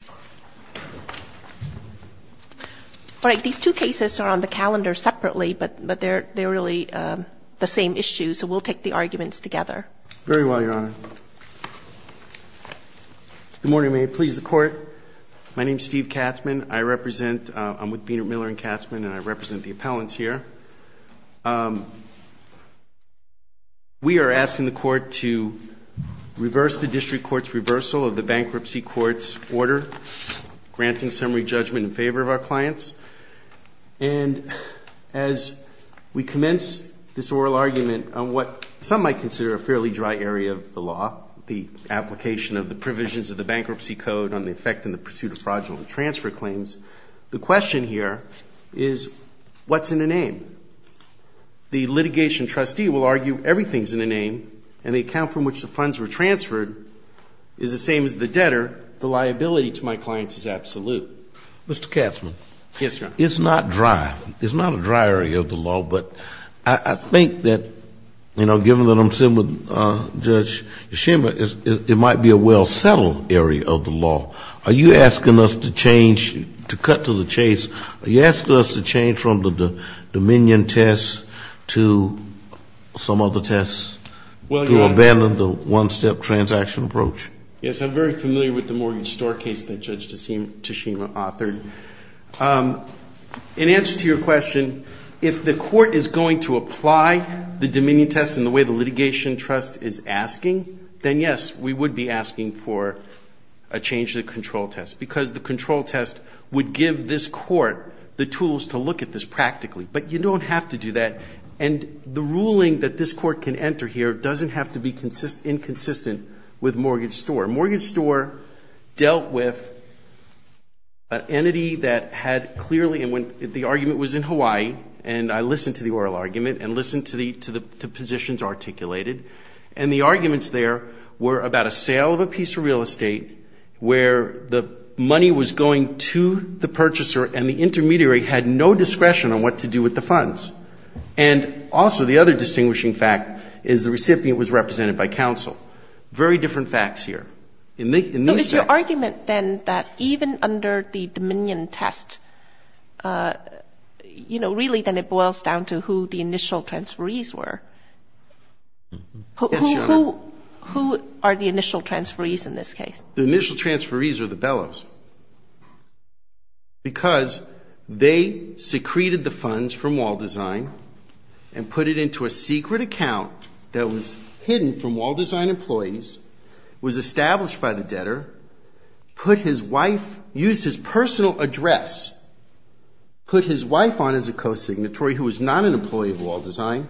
All right. These two cases are on the calendar separately, but they're really the same issue, so we'll take the arguments together. Very well, Your Honor. Good morning. May it please the Court? My name is Steve Katzman. I'm with Bienert Miller & Katzman, and I represent the appellants here. We are asking the Court to reverse the district court's reversal of the bankruptcy court's order to granting summary judgment in favor of our clients. And as we commence this oral argument on what some might consider a fairly dry area of the law, the application of the provisions of the Bankruptcy Code on the effect and the pursuit of fraudulent transfer claims, the question here is, what's in a name? The litigation trustee will argue everything's in a name, and the account from which the funds were transferred is the same as the debtor. The liability to my clients is absolute. Mr. Katzman. Yes, Your Honor. It's not dry. It's not a dry area of the law, but I think that, you know, given that I'm sitting with Judge Yashima, it might be a well-settled area of the law. Are you asking us to change, to cut to the chase, are you asking us to change from the Dominion test to some one-step transaction approach? Yes, I'm very familiar with the mortgage store case that Judge Tashima authored. In answer to your question, if the Court is going to apply the Dominion test in the way the litigation trust is asking, then, yes, we would be asking for a change to the control test, because the control test would give this Court the tools to look at this practically. But you don't have to do that, and the Dominion test is consistent with mortgage store. Mortgage store dealt with an entity that had clearly, and the argument was in Hawaii, and I listened to the oral argument and listened to the positions articulated, and the arguments there were about a sale of a piece of real estate where the money was going to the purchaser and the intermediary had no discretion on what to do with the funds. And also the other distinguishing fact is the recipient was represented by counsel. Very different facts here. But is your argument then that even under the Dominion test, you know, really then it boils down to who the initial transferees were? Yes, Your Honor. Who are the initial transferees in this case? The initial transferees are the bellows, because they secreted the funds from Wall Design and put it into a secret account that was hidden by the debtor. And then the first of the transferees was established by the debtor, put his wife, used his personal address, put his wife on as a co-signatory who was not an employee of Wall Design,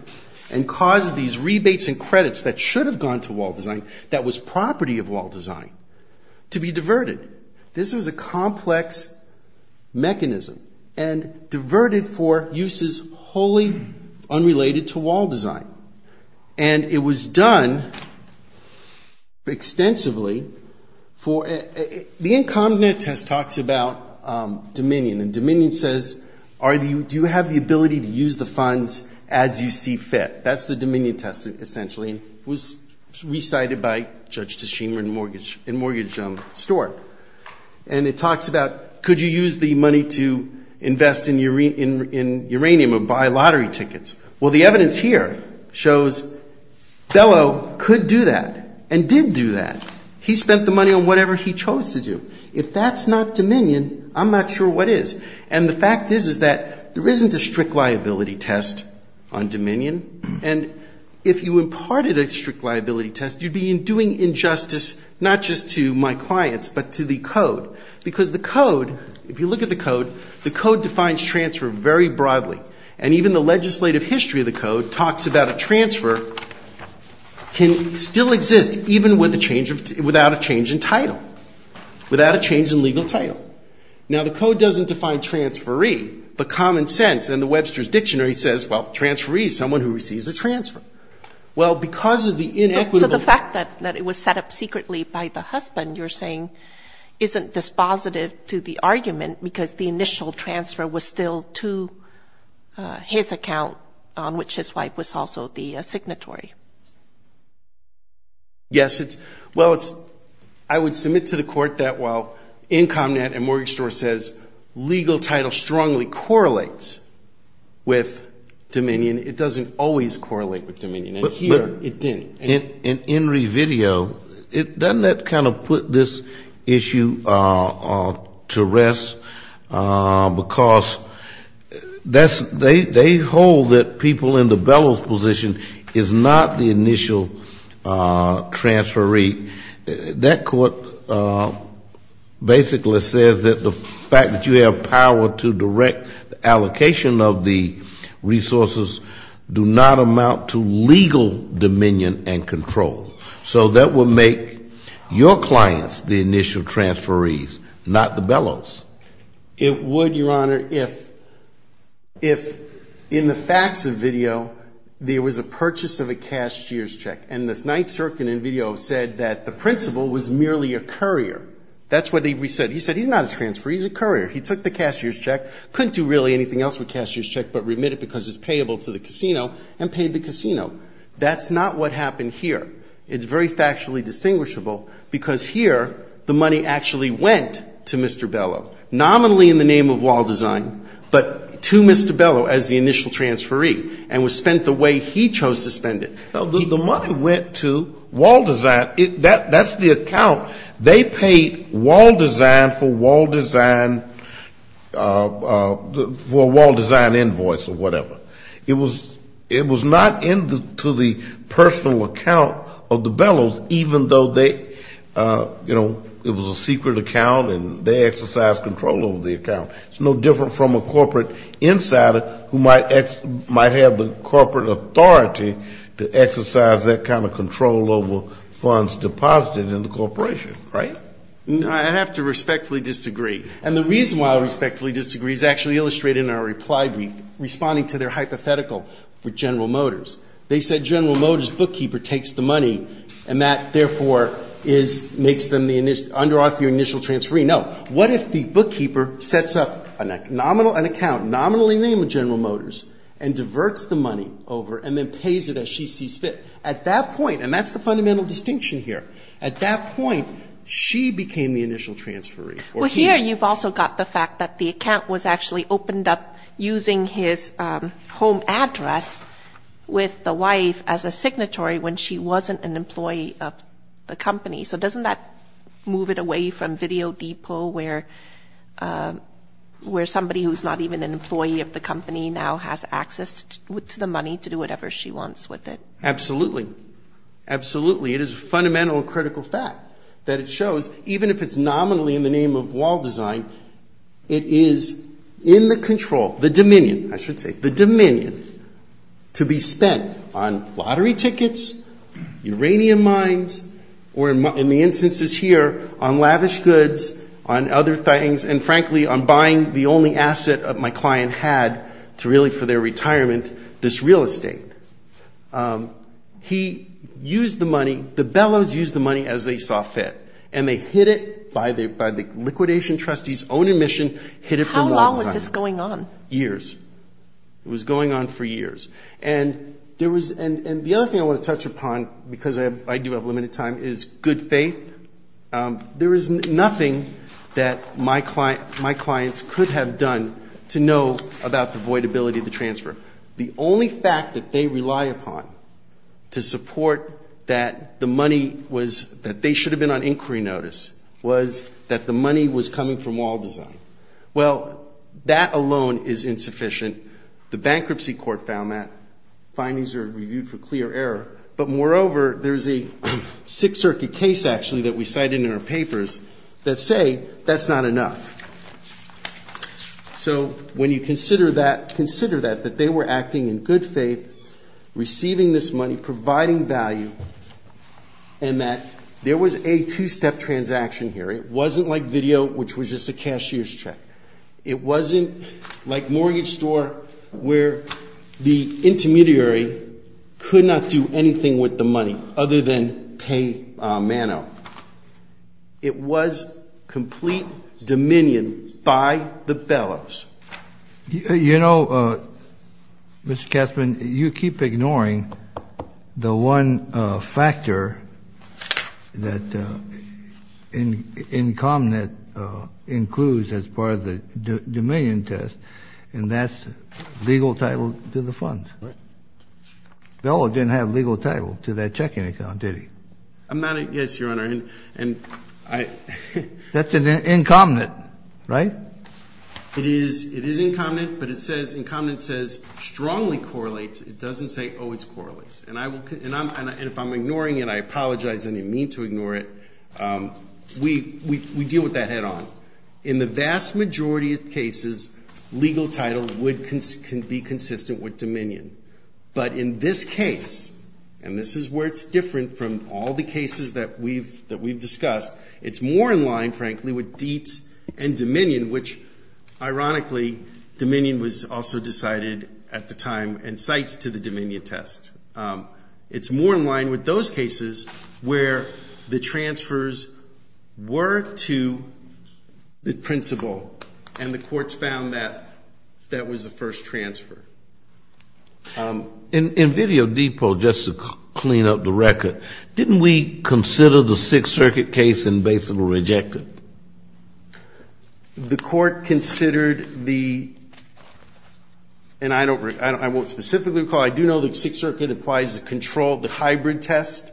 and caused these rebates and credits that should have gone to Wall Design that was property of Wall Design to be diverted. This is a complex mechanism, and diverted for uses wholly unrelated to Wall Design. And it was done extensively for, the incompetent test talks about Dominion, and Dominion says, do you have the ability to use the funds as you see fit? That's the Dominion test, essentially. It was recited by Judge Tashima in Mortgage Store. And it talks about, could you use the money to invest in uranium or buy lottery tickets? Well, the evidence here is that you could. It shows Bellow could do that and did do that. He spent the money on whatever he chose to do. If that's not Dominion, I'm not sure what is. And the fact is, is that there isn't a strict liability test on Dominion. And if you imparted a strict liability test, you'd be doing injustice not just to my clients, but to the Code. Because the Code, if you look at the Code, the Code defines transfer very clearly. It defines that transfer can still exist even without a change in title, without a change in legal title. Now, the Code doesn't define transferee, but common sense. And the Webster's Dictionary says, well, transferee is someone who receives a transfer. Well, because of the inequitable fact that it was set up secretly by the husband, you're saying, isn't dispositive to the argument because the initial transfer was still to his account, on which his wife was also the owner. Yes, it's, well, it's, I would submit to the court that while IncomNet and Mortgage Store says legal title strongly correlates with Dominion, it doesn't always correlate with Dominion. And here it didn't. In Enri's video, doesn't that kind of put this issue to rest? Because that's, they hold that people in the Bellows position are not the initial transferee. That court basically says that the fact that you have power to direct the allocation of the resources do not amount to legal Dominion and control. So that would make your clients the initial transferees, not the Bellows. It would, Your Honor, if in the facts of the video there was a person in the Bellows position who was the initial transferee, he took the purchase of a cashier's check. And the Ninth Circuit in the video said that the principal was merely a courier. That's what he said. He said he's not a transferee, he's a courier. He took the cashier's check, couldn't do really anything else with cashier's check but remit it because it's payable to the casino, and paid the casino. That's not what happened here. It's very factually distinguishable because here the money actually went to Mr. Bellow, nominally in the name of wall design, but to Mr. Bellow as the suspended. The money went to wall design. That's the account. They paid wall design for wall design invoice or whatever. It was not in to the personal account of the Bellows, even though they, you know, it was a secret account and they exercised control over the account. It's no different from a corporate insider who might have the corporate authority to get the money. To exercise that kind of control over funds deposited in the corporation, right? I have to respectfully disagree. And the reason why I respectfully disagree is actually illustrated in our reply brief, responding to their hypothetical with General Motors. They said General Motors bookkeeper takes the money and that, therefore, makes them the under author initial transferee. No. What if the bookkeeper sets up an account nominally in the name of General Motors and diverts the money as she sees fit? At that point, and that's the fundamental distinction here, at that point she became the initial transferee. Well, here you've also got the fact that the account was actually opened up using his home address with the wife as a signatory when she wasn't an employee of the company. So doesn't that move it away from Video Depot where somebody who's not even an employee of the company is now an employee of the company? Absolutely. Absolutely. It is a fundamental and critical fact that it shows, even if it's nominally in the name of wall design, it is in the control, the dominion, I should say, the dominion to be spent on lottery tickets, uranium mines, or in the instances here on lavish goods, on other things, and frankly on buying the only asset my client had to really for their retirement, this real estate. He used the money, the bellows used the money as they saw fit, and they hid it by the liquidation trustee's own admission, hid it from wall design. How long was this going on? Years. It was going on for years. And the other thing I want to touch upon, because I do have limited time, is good faith. There is nothing that my clients could have done to know about the voidability of the transfer. The only fact that they rely upon to support that the money was, that they should have been on inquiry notice, was that the money was coming from wall design. Well, that alone is insufficient. The bankruptcy court found that. Findings are reviewed for clear error. But moreover, there's a Sixth Circuit case actually that we cited in our papers that say that's not enough. So when you consider that, consider that, that they were acting in good faith, receiving this money, providing value, and that there was a two-step transaction here. It wasn't like video, which was just a cashier's check. It wasn't like mortgage store where the intermediary could not do anything with the money other than pay mano. It was complete dominion by the bellows. You know, Mr. Kessman, you keep ignoring the one factor that in common that includes as part of the dominion test, and that's legal title to the funds. No, it didn't have legal title to that checking account, did he? Yes, Your Honor. That's an incumbent, right? It is incumbent, but it says strongly correlates. It doesn't say always correlates. And if I'm ignoring it, I apologize. I didn't mean to ignore it. We deal with that head on. In the vast majority of cases, legal title can be consistent with dominion. But in this case, and this is where it's different from all the cases that we've discussed, it's more in line, frankly, with deets and dominion, which, ironically, dominion was also decided at the time and cites to the dominion test. It's more in line with those cases where the transfers were to the principal, and the courts found that that was the first transfer. In Video Depot, just to clean up the record, didn't we consider the Sixth Circuit case and basically reject it? The court considered the, and I won't specifically recall, I do know that Sixth Circuit applies the control, the hybrid test,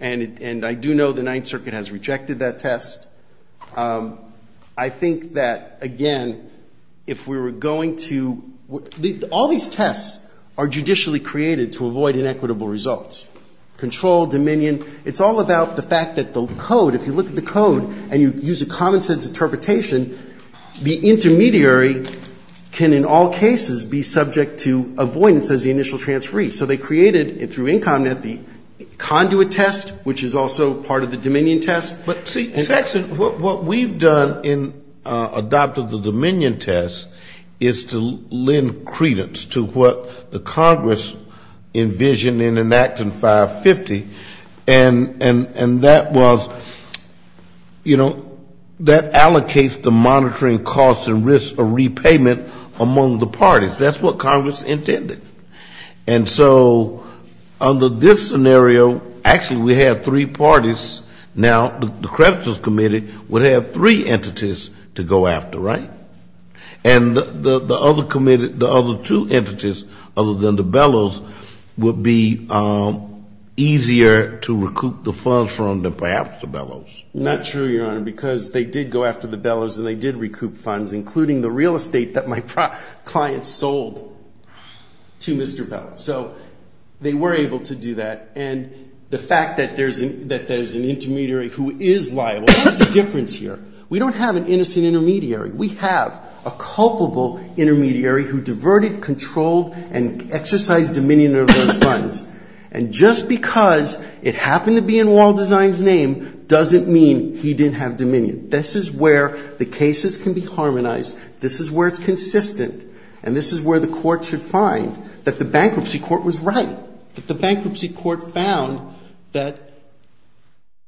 and I do know the Ninth Circuit has rejected that test. I think that, again, if we were going to, if we were going to, if we were going to reject that test, we would have to go back to the Ninth Circuit. So all these tests are judicially created to avoid inequitable results, control, dominion. It's all about the fact that the code, if you look at the code and you use a common-sense interpretation, the intermediary can in all cases be subject to avoidance as the initial transferee. So they created, through Incomnet, the conduit test, which is also part of the dominion test. And that was, you know, that allocates the monitoring costs and risks of repayment among the parties. That's what Congress intended. And so under this scenario, actually we had three parties. Now the creditors committee would have three entities to go after, right? And the other two entities, other than the Bellows, would be easier to recoup the funds from than perhaps the Bellows. Not true, Your Honor, because they did go after the Bellows and they did recoup funds, including the real estate that my client sold to Mr. Bellows. So they were able to do that. And the fact that there's an intermediary who is liable, that's the difference here. We don't have an innocent intermediary. We have a culpable intermediary who diverted, controlled and exercised dominion over those funds. And just because it happened to be in Waldesein's name doesn't mean he didn't have dominion. This is where the cases can be harmonized. This is where it's consistent. And this is where the court should find that the bankruptcy court was right, that the bankruptcy court found that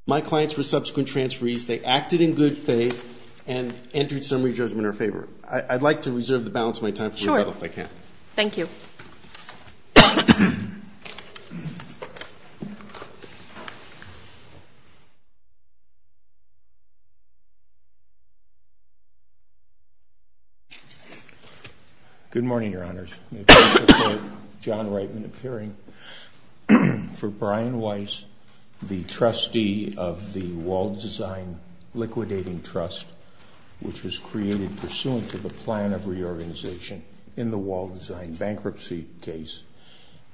my clients were subsequent transferees. They acted in good faith. And Andrew, to sum up your judgment in our favor, I'd like to reserve the balance of my time for rebuttal if I can. Sure. Thank you. Good morning, Your Honors. May it please the Court, John Reitman appearing for Brian Weiss, the trust which was created pursuant to the plan of reorganization in the Waldesein bankruptcy case.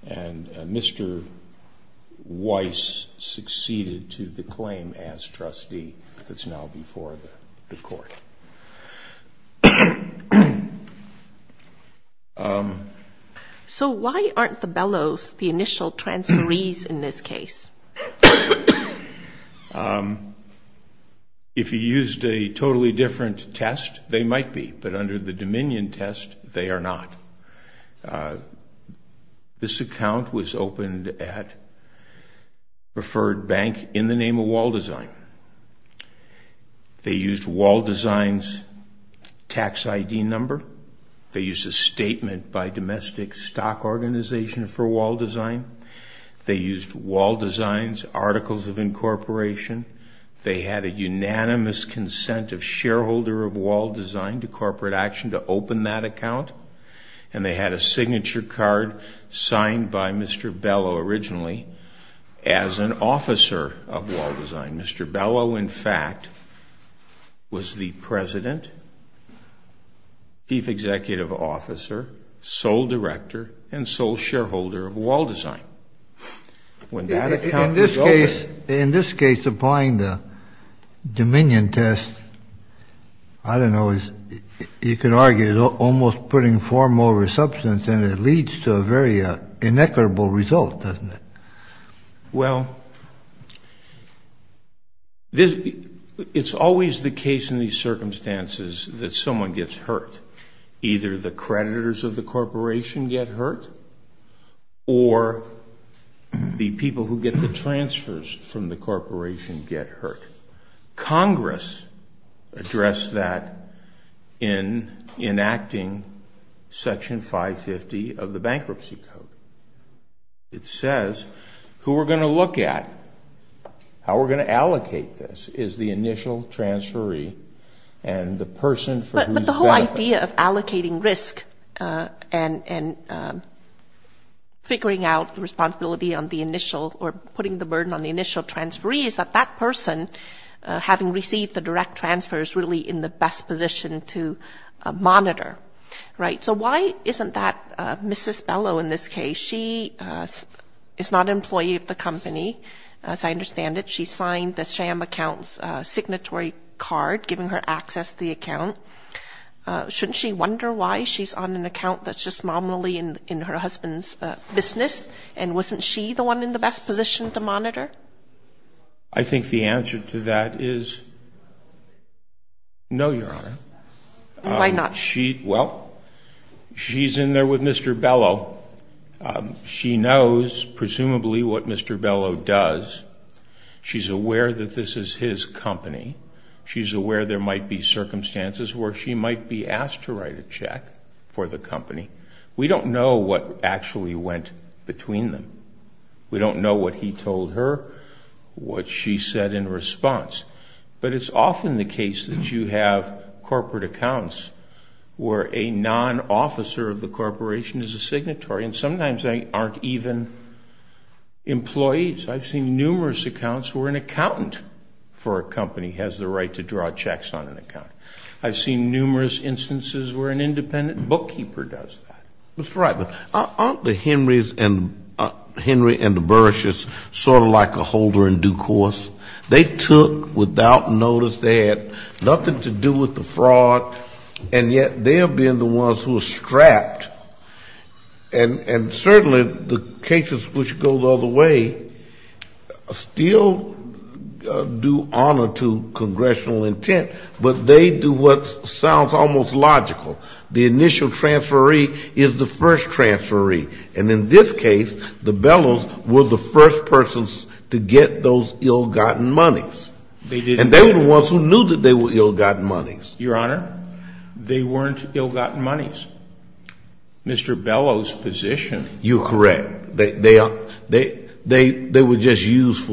And Mr. Weiss succeeded to the claim as trustee that's now before the Court. So why aren't the Bellows the initial transferees in this case? If you used a totally different test, they might be. But under the dominion test, they are not. This account was opened at Preferred Bank in the name of Waldesein. They used Waldesein's tax ID number. They used a statement by domestic stock organization for Waldesein. They used Waldesein's articles of incorporation. They had a unanimous consent of shareholder of Waldesein to corporate action to open that account. And they had a signature card signed by Mr. Bellow originally as an officer of Waldesein. Mr. Bellow, in fact, was the president, chief executive officer, sole director, and sole shareholder of Waldesein. In this case, applying the dominion test, I don't know, you could argue it's almost putting form over substance and it leads to a very inequitable result, doesn't it? Well, it's always the case in these circumstances that someone gets hurt. Either the creditors of the corporation get hurt or the people who get the transfers from the corporation get hurt. Congress addressed that in enacting Section 550 of the Bankruptcy Code. It says who we're going to look at, how we're going to allocate this is the initial transferee and the person for whose benefit. So the idea of allocating risk and figuring out the responsibility on the initial or putting the burden on the initial transferee is that that person, having received the direct transfer, is really in the best position to monitor, right? So why isn't that Mrs. Bellow in this case? She is not an employee of the company, as I understand it. She signed the sham account's signatory card, giving her access to the account. Shouldn't she wonder why she's on an account that's just nominally in her husband's business? And wasn't she the one in the best position to monitor? I think the answer to that is no, Your Honor. Why not? Well, she's in there with Mr. Bellow. She knows, presumably, what Mr. Bellow does. She's aware that this is his company. She's aware there might be circumstances where she might be asked to write a check for the company. We don't know what actually went between them. We don't know what he told her, what she said in response. But it's often the case that you have corporate accounts where a non-officer of the corporation is a signatory, and sometimes they aren't even employees. I've seen numerous accounts where an accountant for a company has the right to draw checks on an account. I've seen numerous instances where an independent bookkeeper does that. Mr. Reitman, aren't the Henrys and the Burrishes sort of like a holder in due course? They took without notice, they had nothing to do with the fraud, and yet they have been the ones who are strapped. And certainly the cases which go the other way still do honor to congressional intent, but they do what sounds almost logical. The initial transferee is the first transferee. And in this case, the Bellows were the first persons to get those ill-gotten monies. And they were the ones who knew that they were ill-gotten monies. Your Honor, they weren't ill-gotten monies. Mr. Bellow's position. You're correct. They were just used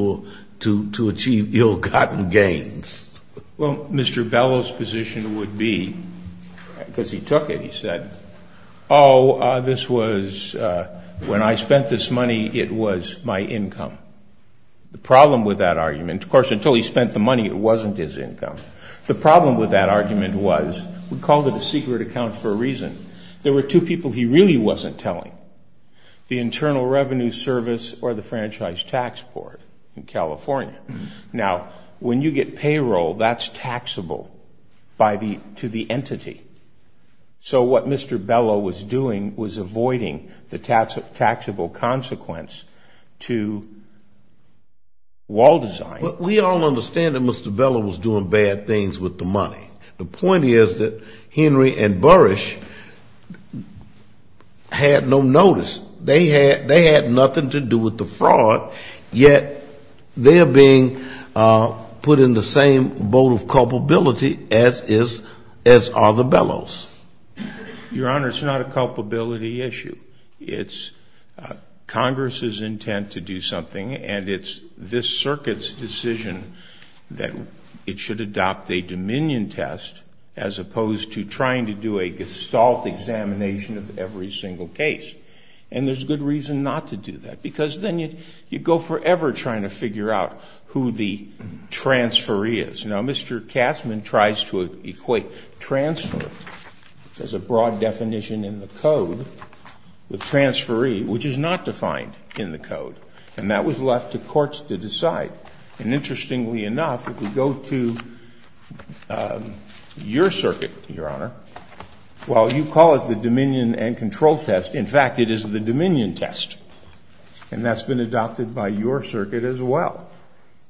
to achieve ill-gotten gains. Well, Mr. Bellow's position would be, because he took it, he said, oh, this was, when I spent this money, it was my income. The problem with that argument, of course, until he spent the money, it wasn't his income. The problem with that argument was, we called it a secret account for a reason. There were two people he really wasn't telling, the Internal Revenue Service or the Franchise Tax Board in California. Now, when you get payroll, that's taxable to the entity. So what Mr. Bellow was doing was avoiding the taxable consequence to wall design. But we all understand that Mr. Bellow was doing bad things with the money. The point is that Henry and Burrish had no notice. They had nothing to do with the fraud, yet they're being put in the same boat of culpability as is, as are the Bellows. Your Honor, it's not a culpability issue. It's Congress's intent to do something, and it's this circuit's decision that it should adopt a dominion tax. And it's a good reason to do that, because then you go forever trying to figure out who the transferee is. Now, Mr. Katzmann tries to equate transfer, which has a broad definition in the Code, with transferee, which is not defined in the Code. And that was left to courts to decide. And interestingly enough, if we go to your circuit, Your Honor, well, you call it the dominion and control test. In fact, it is the dominion test, and that's been adopted by your circuit as well.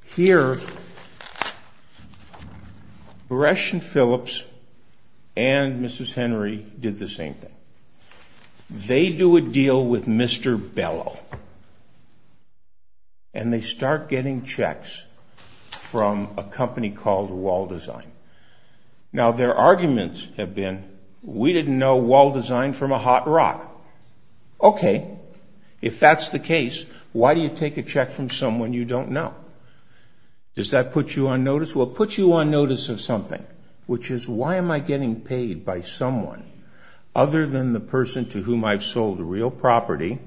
Here, Burrish and Phillips and Mrs. Henry did the same thing. They do a deal with Mr. Bellow, and they start getting checks. From a company called Wall Design. Now, their arguments have been, we didn't know Wall Design from a hot rock. Okay, if that's the case, why do you take a check from someone you don't know? Does that put you on notice? Well, it puts you on notice of something, which is, why am I getting paid by someone other than the person to whom I've sold real property,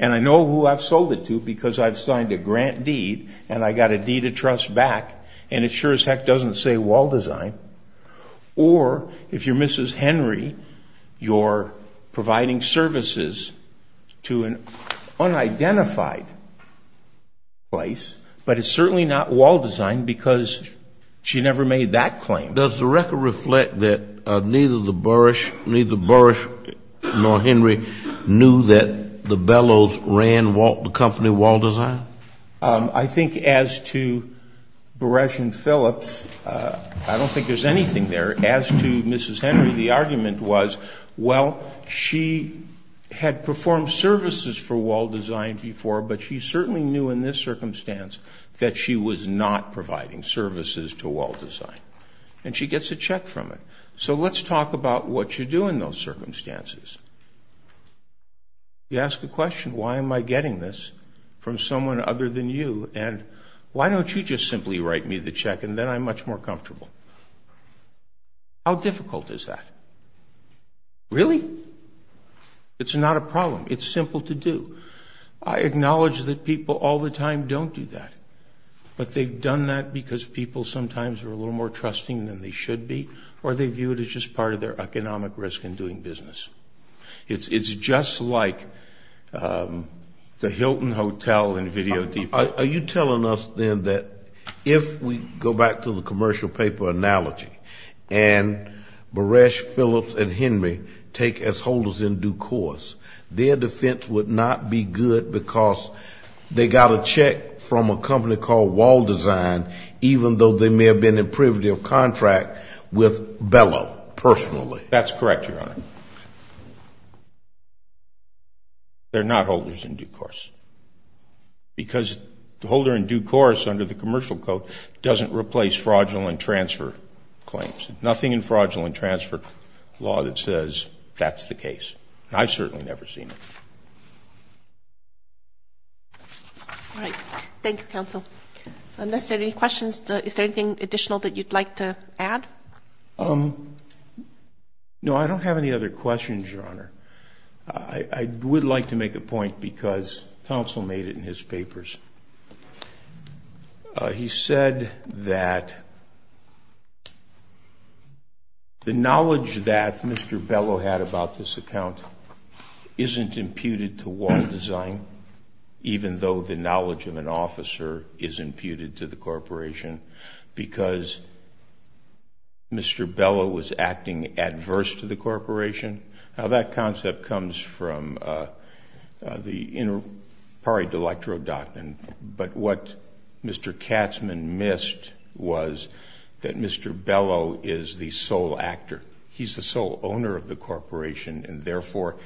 and I know who I've sold it to, because I've signed a grant deed, and I got a deed of trust back, and it sure as heck doesn't say Wall Design. Or, if you're Mrs. Henry, you're providing services to an unidentified place, but it's certainly not Wall Design, because she never made that claim. Does the record reflect that neither Burrish nor Henry knew that Wall Design existed? That the Bellows ran the company Wall Design? I think as to Burrish and Phillips, I don't think there's anything there. As to Mrs. Henry, the argument was, well, she had performed services for Wall Design before, but she certainly knew in this circumstance that she was not providing services to Wall Design. And she gets a check from it. You ask the question, why am I getting this from someone other than you, and why don't you just simply write me the check, and then I'm much more comfortable? How difficult is that? Really? It's not a problem. It's simple to do. I acknowledge that people all the time don't do that, but they've done that because people sometimes are a little more trusting than they should be, or they view it as just part of their economic risk in doing business. It's just like the Hilton Hotel in Video Depot. Are you telling us, then, that if we go back to the commercial paper analogy, and Burrish, Phillips and Henry take as holders in due course, their defense would not be good because they got a check from a company called Wall Design, even though they may have been in privative contract with Bellow personally? That's correct, Your Honor. They're not holders in due course. Because the holder in due course under the commercial code doesn't replace fraudulent transfer claims. Nothing in fraudulent transfer law that says that's the case. I've certainly never seen it. Thank you, Counsel. Unless there are any questions, is there anything additional that you'd like to add? No, I don't have any other questions, Your Honor. I would like to make a point because Counsel made it in his papers. He said that the knowledge that Mr. Bellow had about this account isn't imputed to Wall Design, even though the knowledge of an officer is imputed to the corporation because Mr. Bellow was acting adverse to the corporation. Now, that concept comes from the inter pari delectro doctrine, but what Mr. Katzman missed was that Mr. Bellow is the sole actor. He's the sole owner of the corporation, and therefore,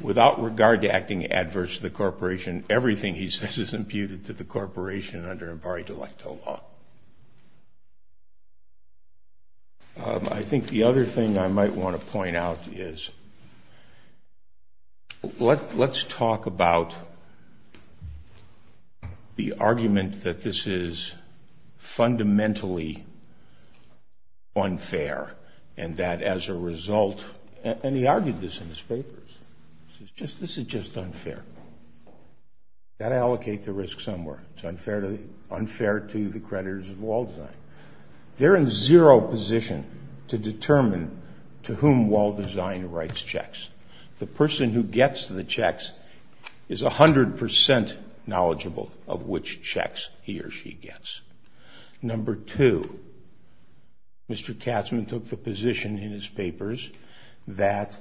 without regard to acting adverse to the corporation, everything he says is imputed to the corporation under inter pari delectro law. I think the other thing I might want to point out is, let's talk about the argument that this is fundamentally unfair, and that as a result, and he argued this in his papers. This is just unfair. You've got to allocate the risk somewhere. It's unfair to the creditors of Wall Design. They're in zero position to determine to whom Wall Design writes checks. The person who gets the checks is 100% knowledgeable of which checks he or she gets. Number two, Mr. Katzman took the position in his papers that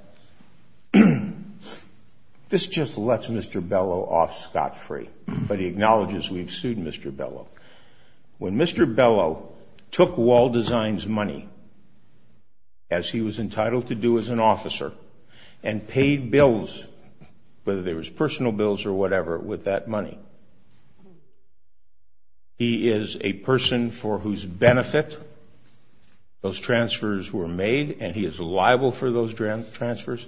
this just lets Mr. Bellow off scot-free, but he acknowledges we've sued Mr. Bellow. When Mr. Bellow took Wall Design's money, as he was entitled to do as an officer, and paid bills, whether they were personal bills or whatever, with that money, he is a person for whose benefit those transfers were made, and he is liable for those transfers,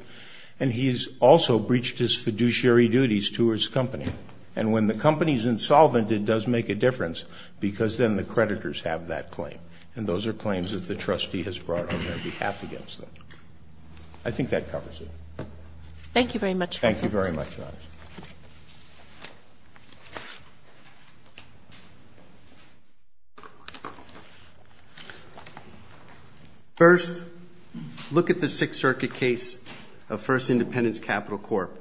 and he has also breached his fiduciary duties to his company. And when the company is insolvent, it does make a difference, because then the creditors have that claim. And those are claims that the trustee has brought on their behalf against them. I think that covers it. Thank you very much, Your Honor. First, look at the Sixth Circuit case of First Independence Capital Corp.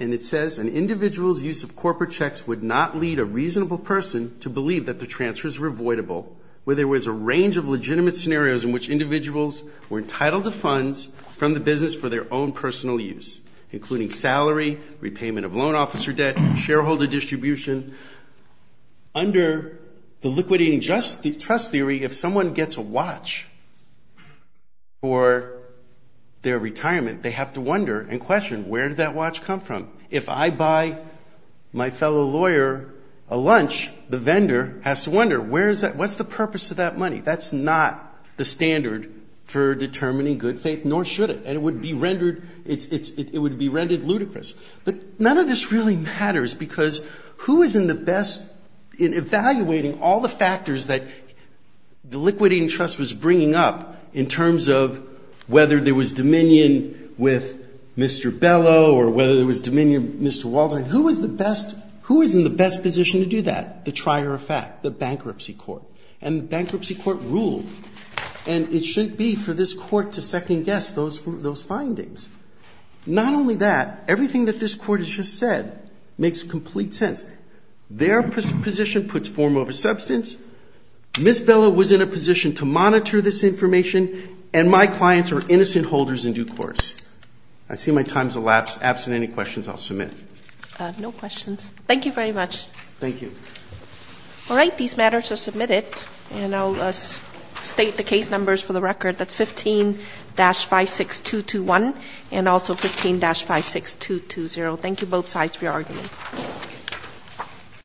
And it says, an individual's use of corporate checks would not lead a reasonable person to believe that the transfers were avoidable, where there was a range of legitimate scenarios in which individuals were entitled to funds from the business for their own personal use. Including salary, repayment of loan officer debt, shareholder distribution. Under the liquidating trust theory, if someone gets a watch for their retirement, they have to wonder and question, where did that watch come from? If I buy my fellow lawyer a lunch, the vendor has to wonder, what's the purpose of that money? That's not the standard for determining good faith, nor should it. And it would be rendered ludicrous. But none of this really matters, because who is in the best, in evaluating all the factors that the liquidating trust was bringing up, in terms of whether there was dominion with Mr. Bellow, or whether there was dominion with Mr. Waldron, who was the best, who was in the best position to do that? The trier of fact, the bankruptcy court. And the bankruptcy court ruled, and it shouldn't be for this court to second guess those findings. Not only that, everything that this court has just said makes complete sense. Their position puts form over substance. Ms. Bellow was in a position to monitor this information, and my clients are innocent holders in due course. I see my time has elapsed. Absent any questions, I'll submit. No questions. Thank you very much. All right. These matters are submitted, and I'll state the case numbers for the record. That's 15-56221 and also 15-56220. Thank you, both sides, for your arguments.